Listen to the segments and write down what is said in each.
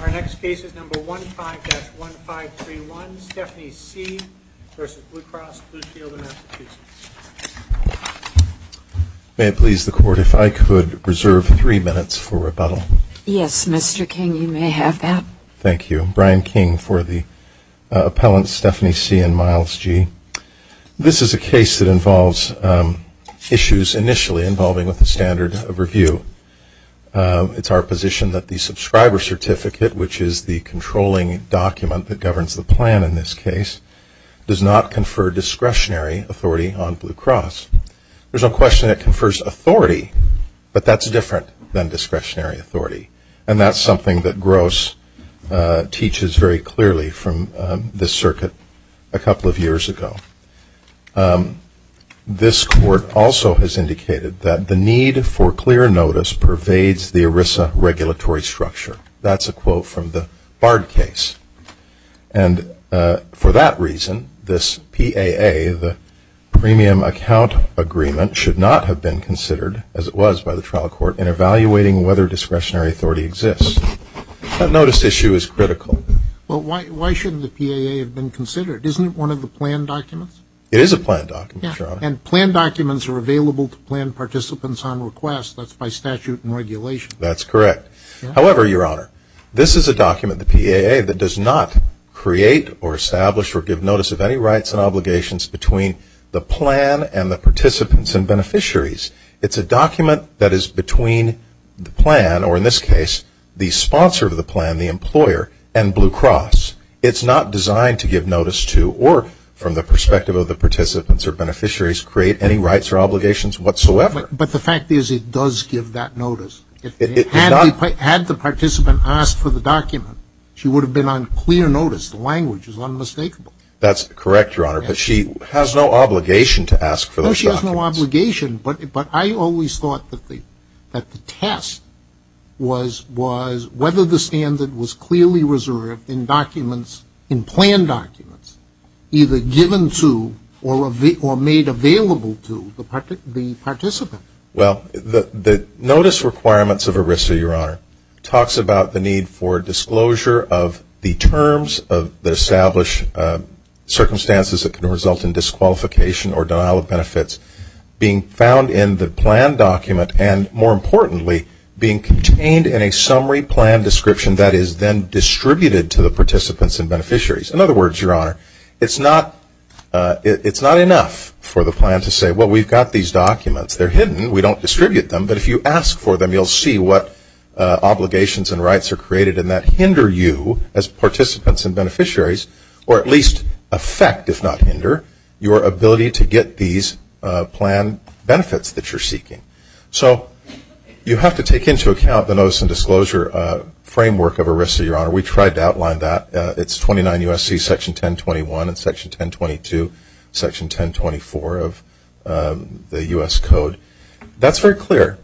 Our next case is number 15-1531, Stephanie C. v. Blue Cross Blue Shield of Massachusetts. May it please the Court, if I could reserve three minutes for rebuttal. Yes, Mr. King, you may have that. Thank you. Brian King for the appellants, Stephanie C. and Miles G. This is a case that involves issues initially involving with the standard of review. It's our position that the subscriber certificate, which is the controlling document that governs the plan in this case, does not confer discretionary authority on Blue Cross. There's no question it confers authority, but that's different than discretionary authority, and that's something that Gross teaches very clearly from this circuit a couple of years ago. This Court also has indicated that the need for clear notice pervades the ERISA regulatory structure. That's a quote from the Bard case. And for that reason, this PAA, the Premium Account Agreement, should not have been considered, as it was by the trial court, in evaluating whether discretionary authority exists. That notice issue is critical. Well, why shouldn't the PAA have been considered? Isn't it one of the plan documents? It is a plan document, Your Honor. And plan documents are available to plan participants on request. That's by statute and regulation. That's correct. However, Your Honor, this is a document, the PAA, that does not create or establish or give notice of any rights and obligations between the plan and the participants and beneficiaries. It's a document that is between the plan, or in this case, the sponsor of the plan, the employer, and Blue Cross. It's not designed to give notice to, or from the perspective of the participants or beneficiaries, create any rights or obligations whatsoever. But the fact is, it does give that notice. Had the participant asked for the document, she would have been on clear notice. The language is unmistakable. That's correct, Your Honor. But she has no obligation to ask for those documents. No, she has no obligation. But I always thought that the test was whether the standard was clearly reserved in documents, in plan documents, either given to or made available to the participant. Well, the notice requirements of ERISA, Your Honor, talks about the need for disclosure of the terms that establish circumstances that can result in disqualification or denial of benefits being found in the plan document and, more importantly, being contained in a summary plan description that is then distributed to the participants and beneficiaries. In other words, Your Honor, it's not enough for the plan to say, well, we've got these documents. They're hidden. We don't distribute them. But if you ask for them, you'll see what obligations and rights are created in that hinder you as participants and beneficiaries or at least affect, if not hinder, your ability to get these plan benefits that you're seeking. So you have to take into account the notice and disclosure framework of ERISA, Your Honor. We tried to outline that. It's 29 U.S.C. Section 1021 and Section 1022, Section 1024 of the U.S. Code. That's very clear.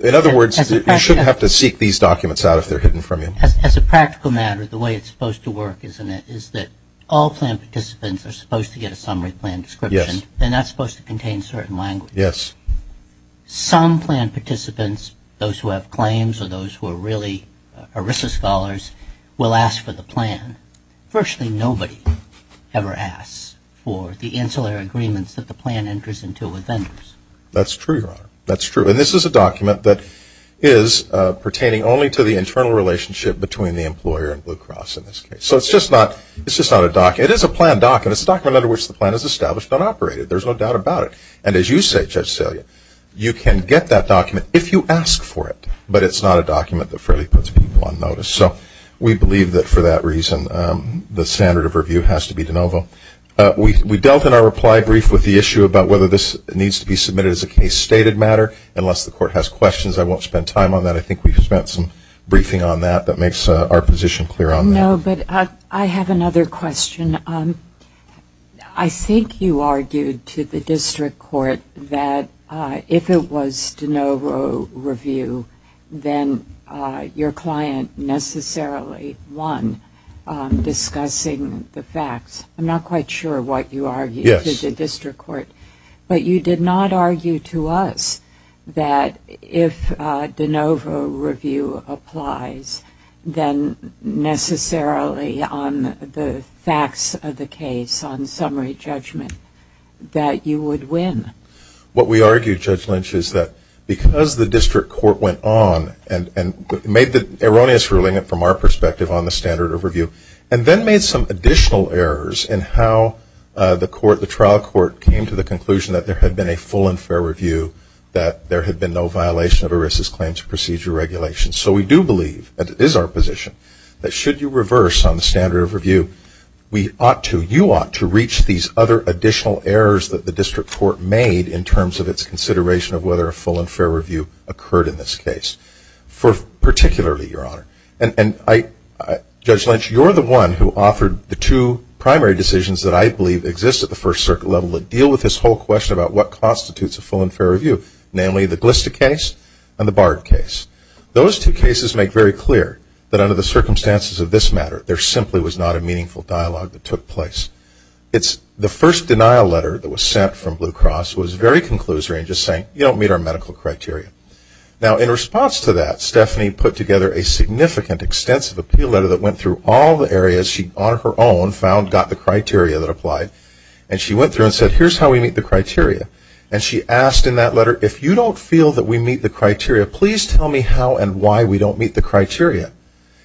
In other words, you shouldn't have to seek these documents out if they're hidden from you. As a practical matter, the way it's supposed to work, isn't it, is that all plan participants are supposed to get a summary plan description. They're not supposed to contain certain language. Yes. Some plan participants, those who have claims or those who are really ERISA scholars, will ask for the plan. Virtually nobody ever asks for the ancillary agreements that the plan enters into with vendors. That's true, Your Honor. That's true. And this is a document that is pertaining only to the internal relationship between the employer and Blue Cross in this case. So it's just not a document. It is a plan document. It's a document under which the plan is established and operated. There's no doubt about it. And as you say, Judge Salia, you can get that document if you ask for it. But it's not a document that fairly puts people on notice. We dealt in our reply brief with the issue about whether this needs to be submitted as a case-stated matter. Unless the court has questions, I won't spend time on that. I think we've spent some briefing on that that makes our position clear on that. No, but I have another question. I think you argued to the district court that if it was de novo review, then your client necessarily won discussing the facts. I'm not quite sure what you argued to the district court. Yes. But you did not argue to us that if de novo review applies, then necessarily on the facts of the case, on summary judgment, that you would win. What we argued, Judge Lynch, is that because the district court went on and made the erroneous ruling from our perspective on the standard overview and then made some additional errors in how the trial court came to the conclusion that there had been a full and fair review, that there had been no violation of ERISA's claims procedure regulations. So we do believe, and it is our position, that should you reverse on the standard of review, you ought to reach these other additional errors that the district court made in terms of its consideration of whether a full and fair review occurred in this case. Particularly, Your Honor. And Judge Lynch, you're the one who offered the two primary decisions that I believe exist at the First Circuit level that deal with this whole question about what constitutes a full and fair review. Namely, the Glista case and the Bard case. Those two cases make very clear that under the circumstances of this matter, there simply was not a meaningful dialogue that took place. The first denial letter that was sent from Blue Cross was very conclusory in just saying, you don't meet our medical criteria. Now, in response to that, Stephanie put together a significant, extensive appeal letter that went through all the areas she, on her own, found, got the criteria that applied. And she went through and said, here's how we meet the criteria. And she asked in that letter, if you don't feel that we meet the criteria, please tell me how and why we don't meet the criteria.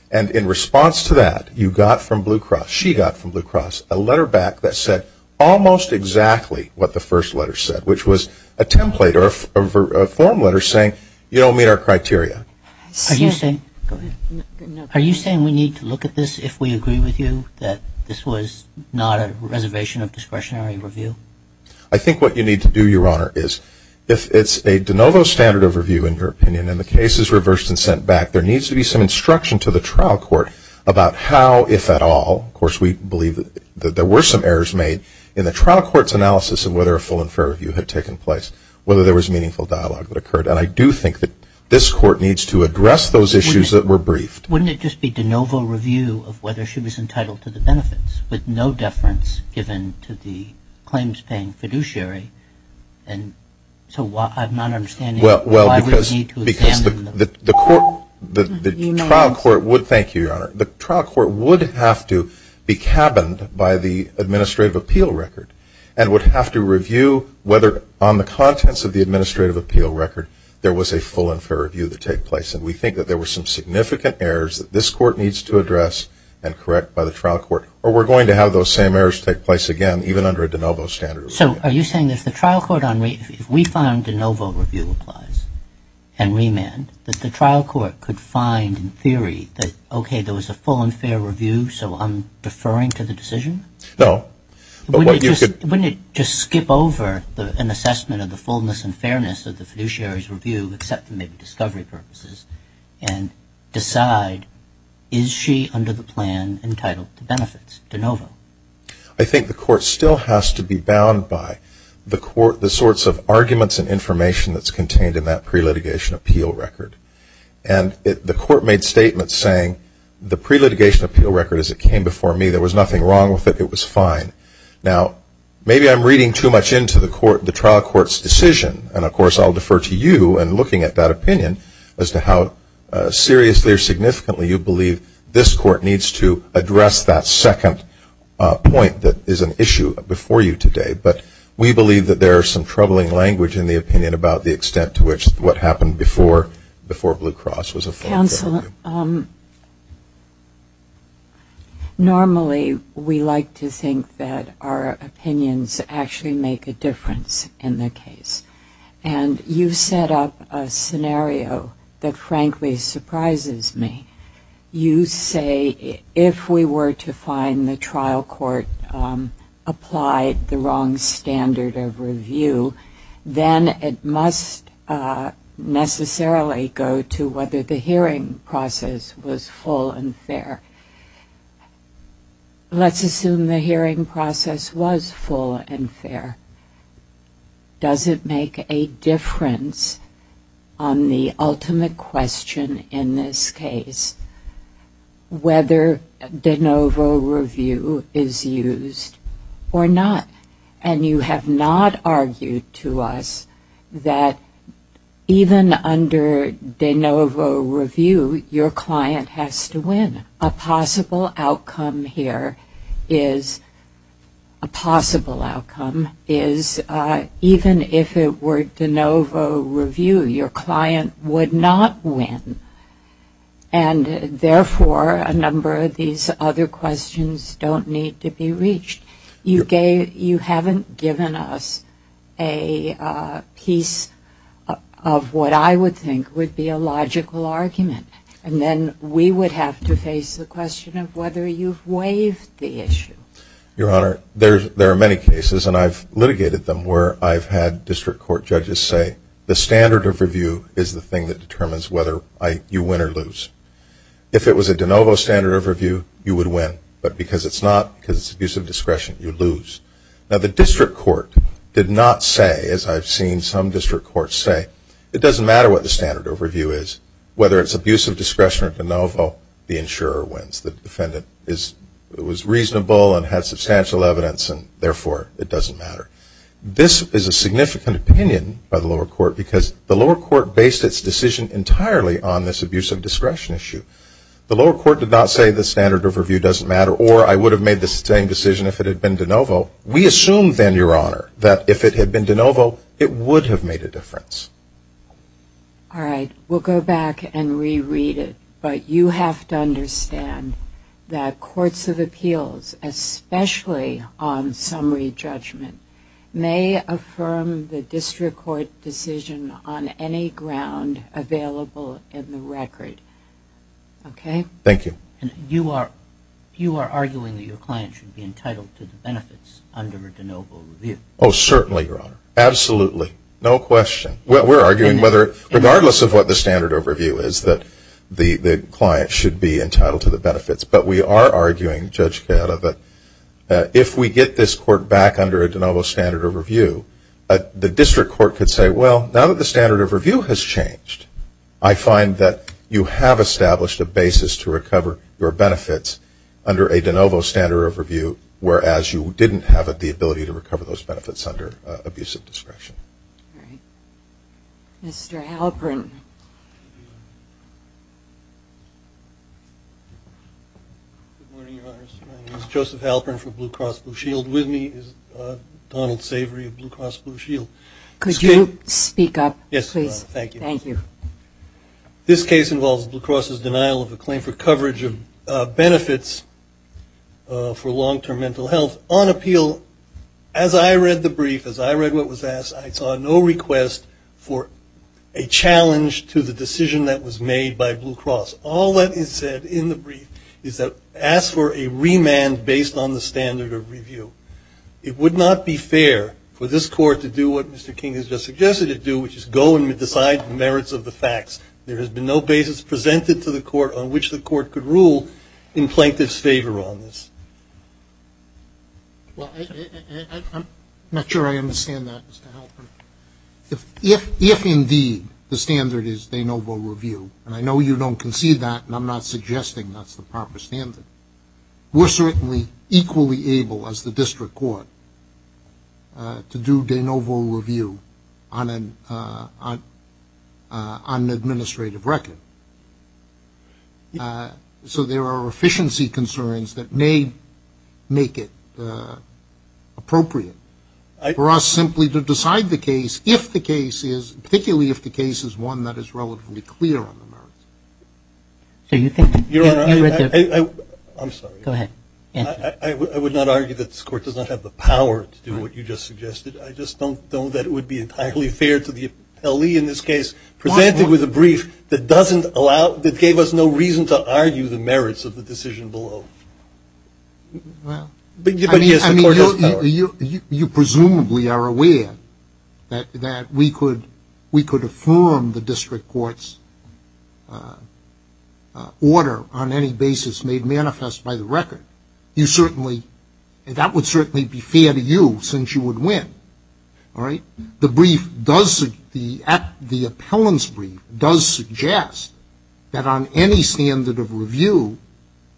And in response to that, you got from Blue Cross, she got from Blue Cross, a letter back that said almost exactly what the first letter said, which was a template or a form letter saying, you don't meet our criteria. Are you saying we need to look at this if we agree with you that this was not a reservation of discretionary review? I think what you need to do, Your Honor, is if it's a de novo standard of review, in your opinion, and the case is reversed and sent back, there needs to be some instruction to the trial court about how, if at all, of course, we believe that there were some errors made in the trial court's analysis of whether a full and fair review had taken place, whether there was meaningful dialogue that occurred. And I do think that this court needs to address those issues that were briefed. Wouldn't it just be de novo review of whether she was entitled to the benefits with no deference given to the claims-paying fiduciary? And so I'm not understanding why we need to examine them. Thank you, Your Honor. The trial court would have to be cabined by the administrative appeal record and would have to review whether, on the contents of the administrative appeal record, there was a full and fair review that took place. And we think that there were some significant errors that this court needs to address and correct by the trial court. Or we're going to have those same errors take place again, even under a de novo standard of review. So are you saying that if the trial court, if we found de novo review applies and remand, that the trial court could find in theory that, okay, there was a full and fair review, so I'm deferring to the decision? No. Wouldn't it just skip over an assessment of the fullness and fairness of the fiduciary's review, except for maybe discovery purposes, and decide, is she under the plan entitled to benefits, de novo? I think the court still has to be bound by the sorts of arguments and information that's contained in that pre-litigation appeal record. And the court made statements saying, the pre-litigation appeal record, as it came before me, there was nothing wrong with it, it was fine. Now, maybe I'm reading too much into the trial court's decision, and, of course, I'll defer to you in looking at that opinion as to how seriously you believe this court needs to address that second point that is an issue before you today. But we believe that there is some troubling language in the opinion about the extent to which what happened before Blue Cross was a full fair review. Counsel, normally we like to think that our opinions actually make a difference in the case. And you set up a scenario that frankly surprises me. You say if we were to find the trial court applied the wrong standard of review, then it must necessarily go to whether the hearing process was full and fair. Let's assume the hearing process was full and fair. Does it make a difference on the ultimate question in this case whether de novo review is used or not? And you have not argued to us that even under de novo review, your client has to win. And a possible outcome here is a possible outcome is even if it were de novo review, your client would not win and, therefore, a number of these other questions don't need to be reached. You haven't given us a piece of what I would think would be a logical argument. And then we would have to face the question of whether you've waived the issue. Your Honor, there are many cases, and I've litigated them, where I've had district court judges say the standard of review is the thing that determines whether you win or lose. If it was a de novo standard of review, you would win. But because it's not, because it's abuse of discretion, you lose. Now, the district court did not say, as I've seen some district courts say, it doesn't matter what the standard of review is. Whether it's abuse of discretion or de novo, the insurer wins. The defendant was reasonable and had substantial evidence, and, therefore, it doesn't matter. This is a significant opinion by the lower court because the lower court based its decision entirely on this abuse of discretion issue. The lower court did not say the standard of review doesn't matter or I would have made the same decision if it had been de novo. We assume, then, Your Honor, that if it had been de novo, it would have made a difference. All right. We'll go back and reread it. But you have to understand that courts of appeals, especially on summary judgment, may affirm the district court decision on any ground available in the record. Okay? Thank you. You are arguing that your client should be entitled to the benefits under a de novo review. Oh, certainly, Your Honor. Absolutely. No question. We're arguing whether, regardless of what the standard of review is, that the client should be entitled to the benefits. But we are arguing, Judge Cata, that if we get this court back under a de novo standard of review, the district court could say, well, now that the standard of review has changed, I find that you have established a basis to recover your benefits under a de novo standard of review, whereas you didn't have the ability to recover those benefits under abusive discretion. All right. Mr. Halperin. Good morning, Your Honor. My name is Joseph Halperin from Blue Cross Blue Shield. With me is Donald Savory of Blue Cross Blue Shield. Could you speak up, please? Thank you. Thank you. This case involves Blue Cross's denial of a claim for coverage of benefits for long-term mental health. On appeal, as I read the brief, as I read what was asked, I saw no request for a challenge to the decision that was made by Blue Cross. All that is said in the brief is that ask for a remand based on the standard of review. It would not be fair for this court to do what Mr. King has just suggested it do, which is go and decide the merits of the facts. There has been no basis presented to the court on which the court could rule in plaintiff's favor on this. Well, I'm not sure I understand that, Mr. Halperin. If indeed the standard is de novo review, and I know you don't concede that, and I'm not suggesting that's the proper standard, we're certainly equally able as the district court to do de novo review on an administrative record. So there are efficiency concerns that may make it appropriate for us simply to decide the case, particularly if the case is one that is relatively clear on the merits. Your Honor, I'm sorry. Go ahead. I would not argue that this court does not have the power to do what you just suggested. I just don't know that it would be entirely fair to the appellee in this case, presented with a brief that gave us no reason to argue the merits of the decision below. Well, I mean, you presumably are aware that we could affirm the district court's order on any basis made manifest by the record. You certainly, that would certainly be fair to you since you would win. All right? The brief does, the appellant's brief does suggest that on any standard of review,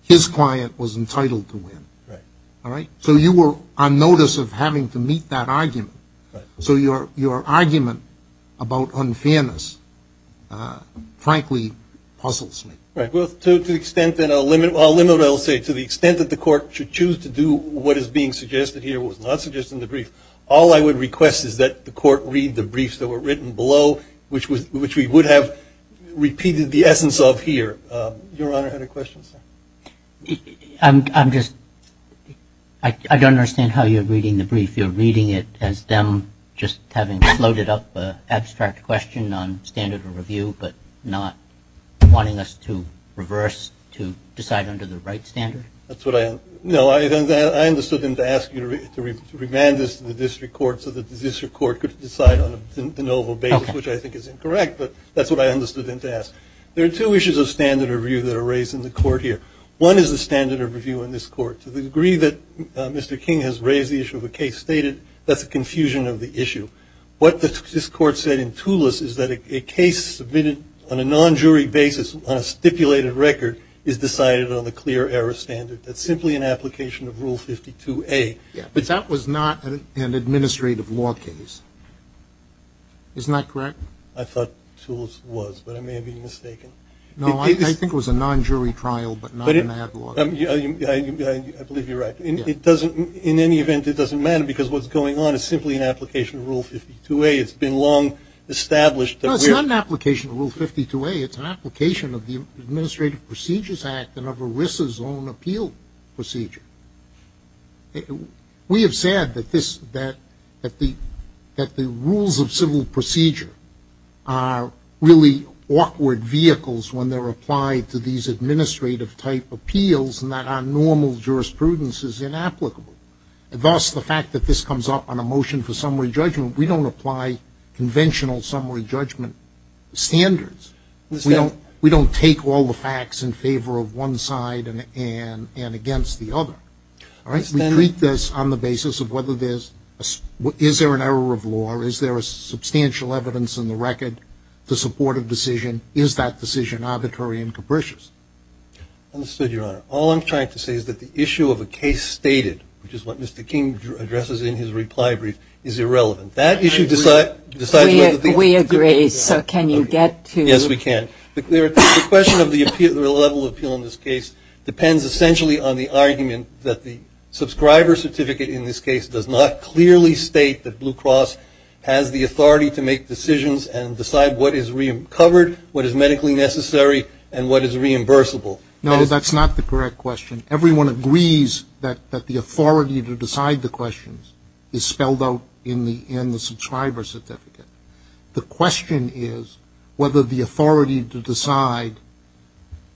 his client was entitled to win. Right. All right? So you were on notice of having to meet that argument. Right. So your argument about unfairness, frankly, puzzles me. Right. Well, to the extent that I'll limit what I'll say, to the extent that the court should choose to do what is being suggested here, All I would request is that the court read the briefs that were written below, which we would have repeated the essence of here. Your Honor had a question, sir? I'm just, I don't understand how you're reading the brief. You're reading it as them just having floated up an abstract question on standard of review, but not wanting us to reverse to decide under the right standard? No, I understood them to ask you to remand this to the district court so that the district court could decide on a de novo basis, which I think is incorrect, but that's what I understood them to ask. There are two issues of standard of review that are raised in the court here. One is the standard of review in this court. To the degree that Mr. King has raised the issue of a case stated, that's a confusion of the issue. What this court said in Toulouse is that a case submitted on a non-jury basis on a stipulated record is decided on the clear error standard. That's simply an application of Rule 52A. Yeah, but that was not an administrative law case. Isn't that correct? I thought Toulouse was, but I may have been mistaken. No, I think it was a non-jury trial, but not an ad law. I believe you're right. In any event, it doesn't matter, because what's going on is simply an application of Rule 52A. It's been long established that we're No, it's not an application of Rule 52A. It's an application of the Administrative Procedures Act and of ERISA's own appeal procedure. We have said that the rules of civil procedure are really awkward vehicles when they're applied to these administrative-type appeals and that our normal jurisprudence is inapplicable. Thus, the fact that this comes up on a motion for summary judgment, we don't apply conventional summary judgment standards. We don't take all the facts in favor of one side and against the other. We treat this on the basis of whether there's an error of law or is there substantial evidence in the record to support a decision. Is that decision arbitrary and capricious? Understood, Your Honor. All I'm trying to say is that the issue of a case stated, which is what Mr. King addresses in his reply brief, is irrelevant. That issue decides whether the We agree. So can you get to Yes, we can. The question of the level of appeal in this case depends essentially on the argument that the subscriber certificate in this case does not clearly state that Blue Cross has the authority to make decisions and decide what is covered, what is medically necessary, and what is reimbursable. No, that's not the correct question. Everyone agrees that the authority to decide the questions is spelled out in the subscriber certificate. The question is whether the authority to decide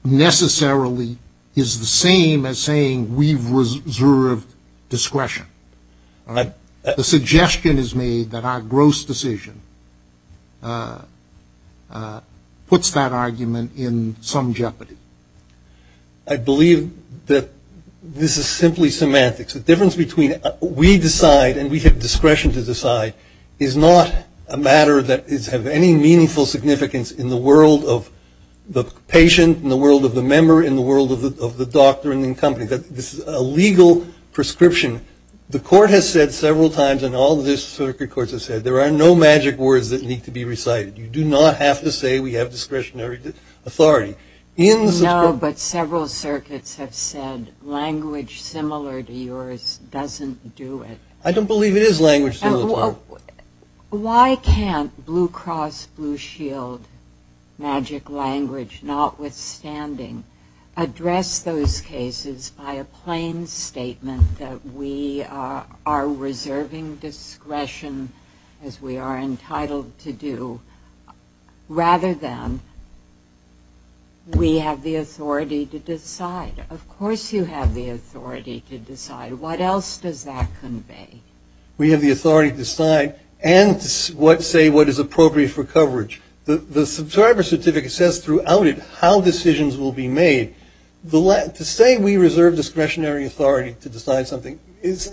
necessarily is the same as saying we've reserved discretion. The suggestion is made that our gross decision puts that argument in some jeopardy. I believe that this is simply semantics. The difference between we decide and we have discretion to decide is not a matter that has any meaningful significance in the world of the patient, in the world of the member, in the world of the doctor and the company. This is a legal prescription. The court has said several times, and all the circuit courts have said, there are no magic words that need to be recited. You do not have to say we have discretionary authority. No, but several circuits have said language similar to yours doesn't do it. I don't believe it is language similar to yours. Why can't Blue Cross Blue Shield magic language, notwithstanding, address those cases by a plain statement that we are reserving discretion, as we are entitled to do, rather than we have the authority to decide. Of course you have the authority to decide. What else does that convey? We have the authority to decide and to say what is appropriate for coverage. The subscriber certificate says throughout it how decisions will be made. To say we reserve discretionary authority to decide something is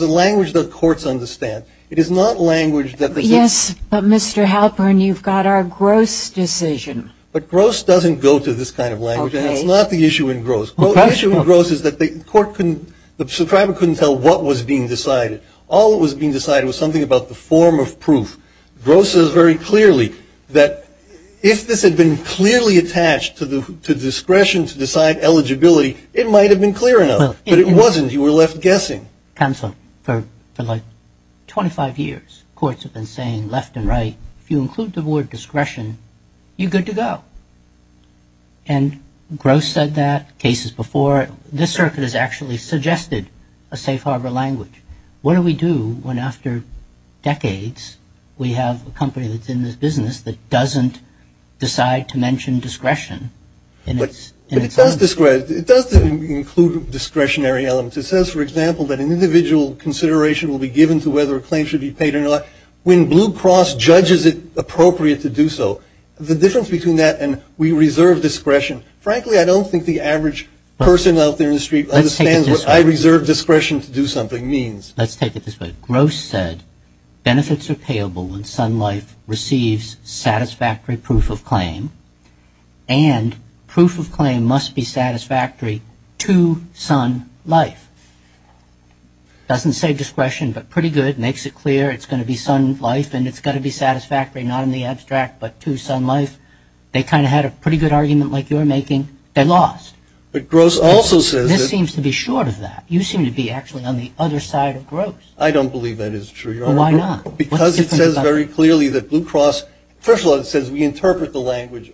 a language that courts understand. Yes, but Mr. Halpern, you've got our gross decision. But gross doesn't go to this kind of language, and that's not the issue in gross. The issue in gross is that the court couldn't, the subscriber couldn't tell what was being decided. All that was being decided was something about the form of proof. Gross is very clearly that if this had been clearly attached to discretion to decide eligibility, it might have been clear enough, but it wasn't. You were left guessing. Counsel, for like 25 years, courts have been saying left and right, if you include the word discretion, you're good to go. And gross said that, cases before. This circuit has actually suggested a safe harbor language. What do we do when after decades we have a company that's in this business that doesn't decide to mention discretion? It does include discretionary elements. It says, for example, that an individual consideration will be given to whether a claim should be paid or not. When Blue Cross judges it appropriate to do so, the difference between that and we reserve discretion, frankly, I don't think the average person out there in the street understands what I reserve discretion to do something means. Let's take it this way. Gross said benefits are payable when Sun Life receives satisfactory proof of claim, and proof of claim must be satisfactory to Sun Life. Doesn't say discretion, but pretty good, makes it clear it's going to be Sun Life and it's got to be satisfactory not in the abstract, but to Sun Life. They kind of had a pretty good argument like you're making. They lost. But Gross also says that. This seems to be short of that. You seem to be actually on the other side of Gross. I don't believe that is true, Your Honor. Well, why not? Because it says very clearly that Blue Cross, first of all, it says we interpret the language,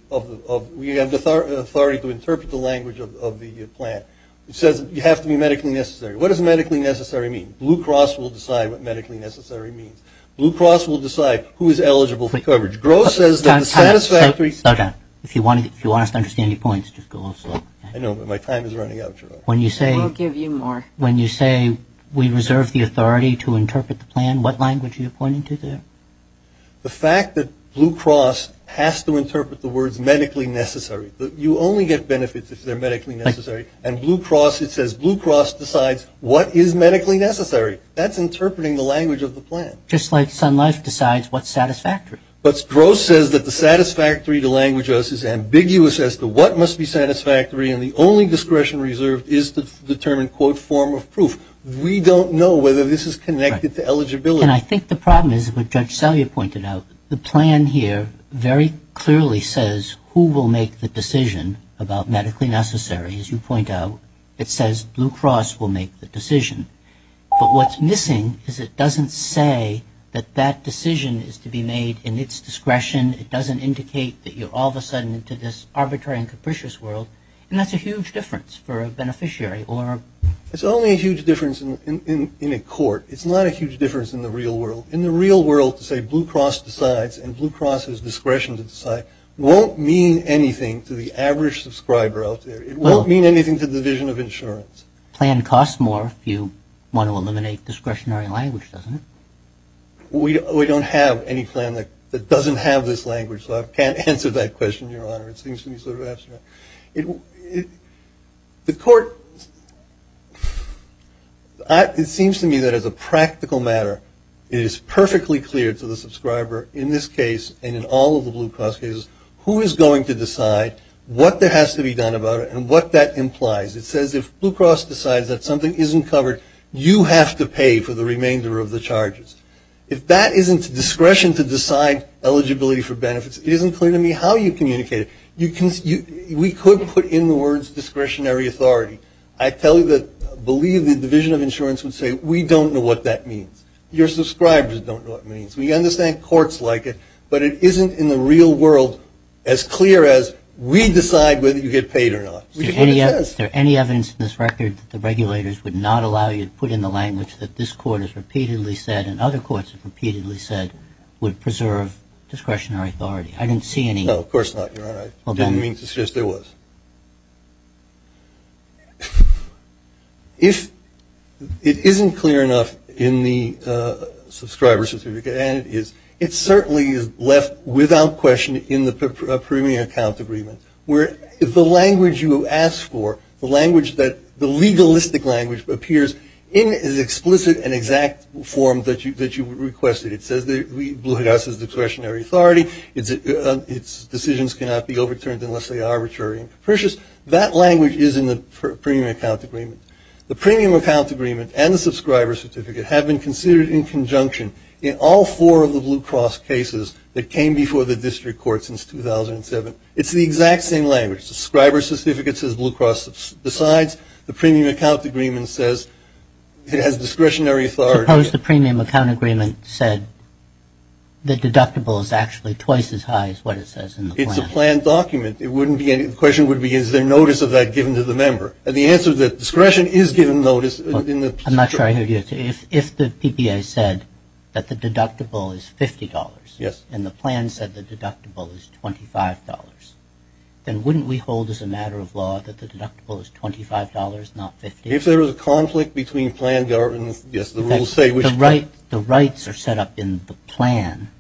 we have the authority to interpret the language of the plan. It says you have to be medically necessary. What does medically necessary mean? Blue Cross will decide what medically necessary means. Blue Cross will decide who is eligible for coverage. Gross says that the satisfactory. If you want us to understand your points, just go a little slower. I know, but my time is running out, Your Honor. We'll give you more. When you say we reserve the authority to interpret the plan, what language are you pointing to there? The fact that Blue Cross has to interpret the words medically necessary. You only get benefits if they're medically necessary. And Blue Cross, it says Blue Cross decides what is medically necessary. That's interpreting the language of the plan. Just like Sun Life decides what's satisfactory. But Gross says that the satisfactory to language us is ambiguous as to what must be satisfactory, and the only discretion reserved is to determine, quote, form of proof. We don't know whether this is connected to eligibility. And I think the problem is what Judge Salyer pointed out. The plan here very clearly says who will make the decision about medically necessary, as you point out. It says Blue Cross will make the decision. But what's missing is it doesn't say that that decision is to be made in its discretion. It doesn't indicate that you're all of a sudden into this arbitrary and capricious world, and that's a huge difference for a beneficiary. It's only a huge difference in a court. It's not a huge difference in the real world. In the real world, to say Blue Cross decides and Blue Cross has discretion to decide won't mean anything to the average subscriber out there. It won't mean anything to the Division of Insurance. Plan costs more if you want to eliminate discretionary language, doesn't it? We don't have any plan that doesn't have this language, so I can't answer that question, Your Honor. It seems to me sort of abstract. The court, it seems to me that as a practical matter, it is perfectly clear to the subscriber in this case and in all of the Blue Cross cases who is going to decide what has to be done about it and what that implies. It says if Blue Cross decides that something isn't covered, you have to pay for the remainder of the charges. If that isn't discretion to decide eligibility for benefits, it isn't clear to me how you communicate it. We could put in the words discretionary authority. I believe the Division of Insurance would say we don't know what that means. Your subscribers don't know what it means. We understand courts like it, but it isn't in the real world as clear as we decide whether you get paid or not. Is there any evidence in this record that the regulators would not allow you to put in the language that this court has repeatedly said and other courts have repeatedly said would preserve discretionary authority? I didn't see any. No, of course not, Your Honor. I didn't mean to suggest there was. If it isn't clear enough in the subscriber certificate, it certainly is left without question in the premium account agreement where the language you ask for, the legalistic language appears in as explicit an exact form that you requested. It says that Blue House has discretionary authority. Its decisions cannot be overturned unless they are arbitrary and capricious. That language is in the premium account agreement. The premium account agreement and the subscriber certificate have been considered in conjunction in all four of the Blue Cross cases that came before the district court since 2007. It's the exact same language. Subscriber certificate says Blue Cross decides. The premium account agreement says it has discretionary authority. Suppose the premium account agreement said the deductible is actually twice as high as what it says in the plan. It's a planned document. The question would be is there notice of that given to the member. The answer is that discretion is given notice. I'm not sure I hear you. If the PBA said that the deductible is $50 and the plan said the deductible is $25, then wouldn't we hold as a matter of law that the deductible is $25, not $50? If there is a conflict between planned documents, yes, the rules say. The rights are set up in the plan.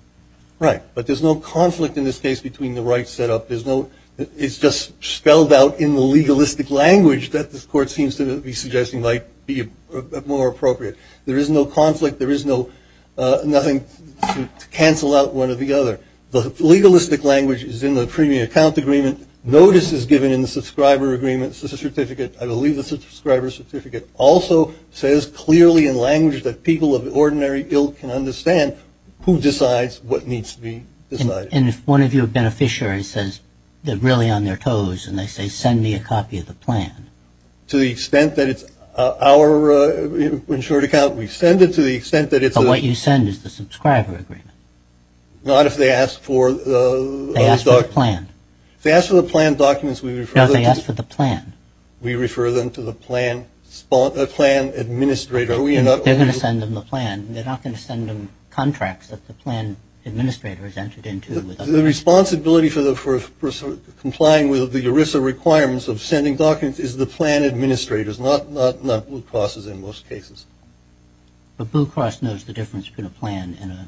Right, but there's no conflict in this case between the rights set up. It's just spelled out in the legalistic language that this court seems to be suggesting might be more appropriate. There is no conflict. There is nothing to cancel out one or the other. The legalistic language is in the premium account agreement. Notice is given in the subscriber agreement. This is a certificate. I believe it's a subscriber certificate. Also says clearly in language that people of ordinary ilk can understand who decides what needs to be decided. And if one of your beneficiaries says they're really on their toes and they say send me a copy of the plan. To the extent that it's our insured account, we send it to the extent that it's a – But what you send is the subscriber agreement. Not if they ask for the – They ask for the plan. If they ask for the planned documents, we refer – No, they ask for the plan. We refer them to the plan administrator. We are not – They're going to send them the plan. They're not going to send them contracts that the plan administrator has entered into. The responsibility for complying with the ERISA requirements of sending documents is the plan administrators, not Blue Crosses in most cases. But Blue Cross knows the difference between a plan and a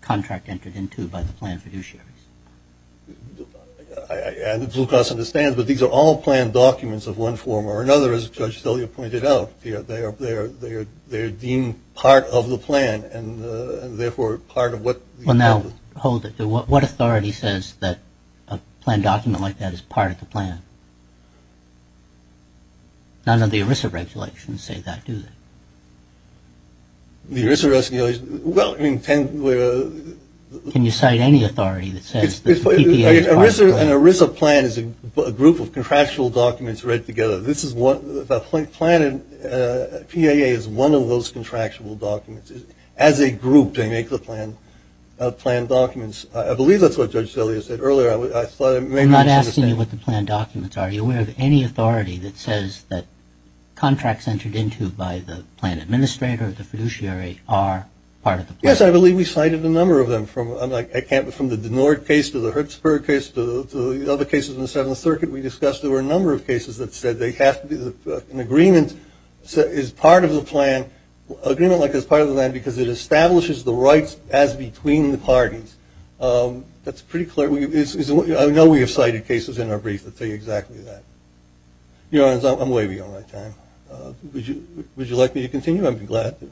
contract entered into by the plan fiduciary. Blue Cross understands, but these are all planned documents of one form or another, as Judge Szilja pointed out. They are deemed part of the plan and, therefore, part of what – Well, now, hold it. What authority says that a planned document like that is part of the plan? None of the ERISA regulations say that, do they? The ERISA regulations – well, in – Can you cite any authority that says the PPA is part of the plan? An ERISA plan is a group of contractual documents read together. This is what – the planned PAA is one of those contractual documents. As a group, they make the plan documents. I believe that's what Judge Szilja said earlier. I thought it made more sense – I'm not asking you what the planned documents are. Are you aware of any authority that says that contracts entered into by the plan administrator or the fiduciary are part of the plan? Yes, I believe we cited a number of them from – I can't – from the Denord case to the Hertzberg case to the other cases in the Seventh Circuit. We discussed there were a number of cases that said they have to be – an agreement is part of the plan – agreement like is part of the plan because it establishes the rights as between the parties. That's pretty clear. I know we have cited cases in our brief that say exactly that. Your Honors, I'm wavy on my time. Would you like me to continue? I'd be glad to.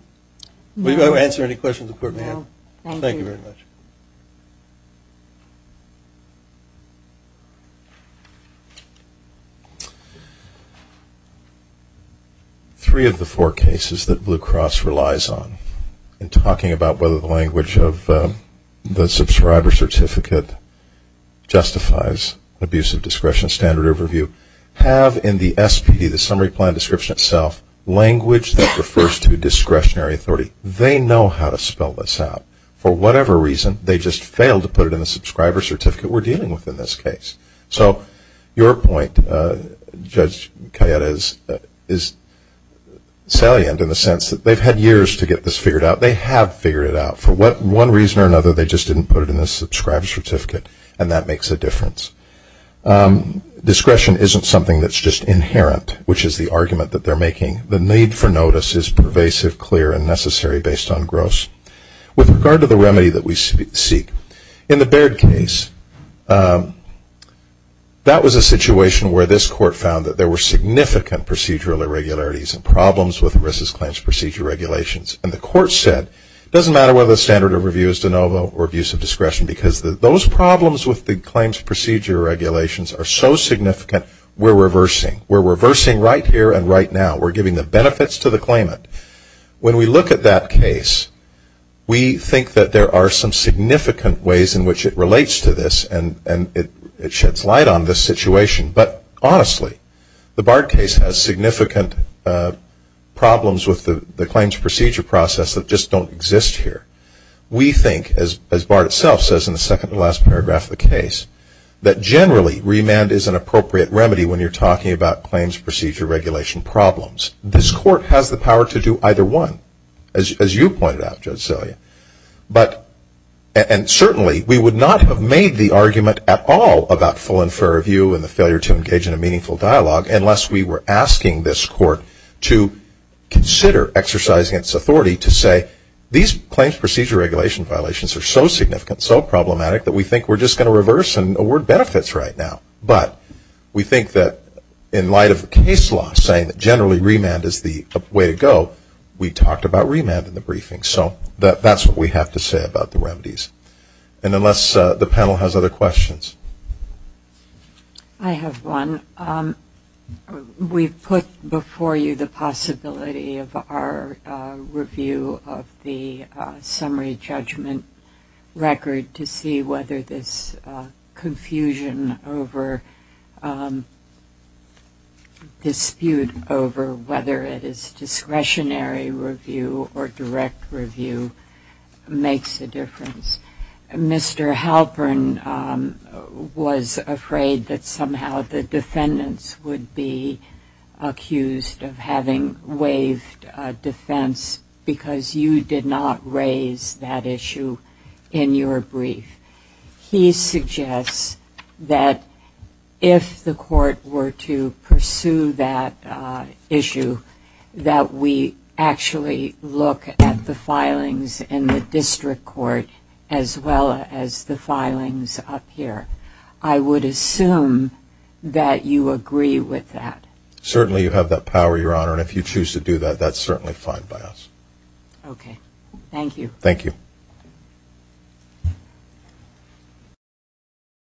Would you like me to answer any questions before we end? No, thank you. Thank you very much. Three of the four cases that Blue Cross relies on in talking about whether the language of the subscriber certificate justifies abusive discretion standard overview have in the SPD, the summary plan description itself, language that refers to discretionary authority. They know how to spell this out. For whatever reason, they just failed to put it in the subscriber certificate we're dealing with in this case. So your point, Judge Kayette, is salient in the sense that they've had years to get this figured out. They have figured it out. For one reason or another, they just didn't put it in the subscriber certificate, and that makes a difference. Discretion isn't something that's just inherent, which is the argument that they're making. The need for notice is pervasive, clear, and necessary based on gross. With regard to the remedy that we seek, in the Baird case, that was a situation where this court found that there were significant procedural irregularities and problems with ERISA's claims procedure regulations, and the court said it doesn't matter whether the standard overview is de novo or abusive discretion because those problems with the claims procedure regulations are so significant, we're reversing. We're reversing right here and right now. We're giving the benefits to the claimant. When we look at that case, we think that there are some significant ways in which it relates to this, and it sheds light on this situation. But honestly, the Baird case has significant problems with the claims procedure process that just don't exist here. We think, as Baird itself says in the second to last paragraph of the case, that generally remand is an appropriate remedy when you're talking about claims procedure regulation problems. This court has the power to do either one, as you pointed out, Judge Celia, and certainly we would not have made the argument at all about full and fair review and the failure to engage in a meaningful dialogue unless we were asking this court to consider exercising its authority to say these claims procedure regulation violations are so significant, so problematic, that we think we're just going to reverse and award benefits right now. But we think that in light of case law saying that generally remand is the way to go, we talked about remand in the briefing. So that's what we have to say about the remedies. And unless the panel has other questions. I have one. We've put before you the possibility of our review of the summary judgment record to see whether this confusion over dispute over whether it is discretionary review or direct review makes a difference. Mr. Halpern was afraid that somehow the defendants would be accused of having waived defense because you did not raise that issue in your brief. He suggests that if the court were to pursue that issue, that we actually look at the filings in the district court as well as the filings up here. I would assume that you agree with that. Certainly you have that power, Your Honor. And if you choose to do that, that's certainly fine by us. Okay. Thank you. Thank you.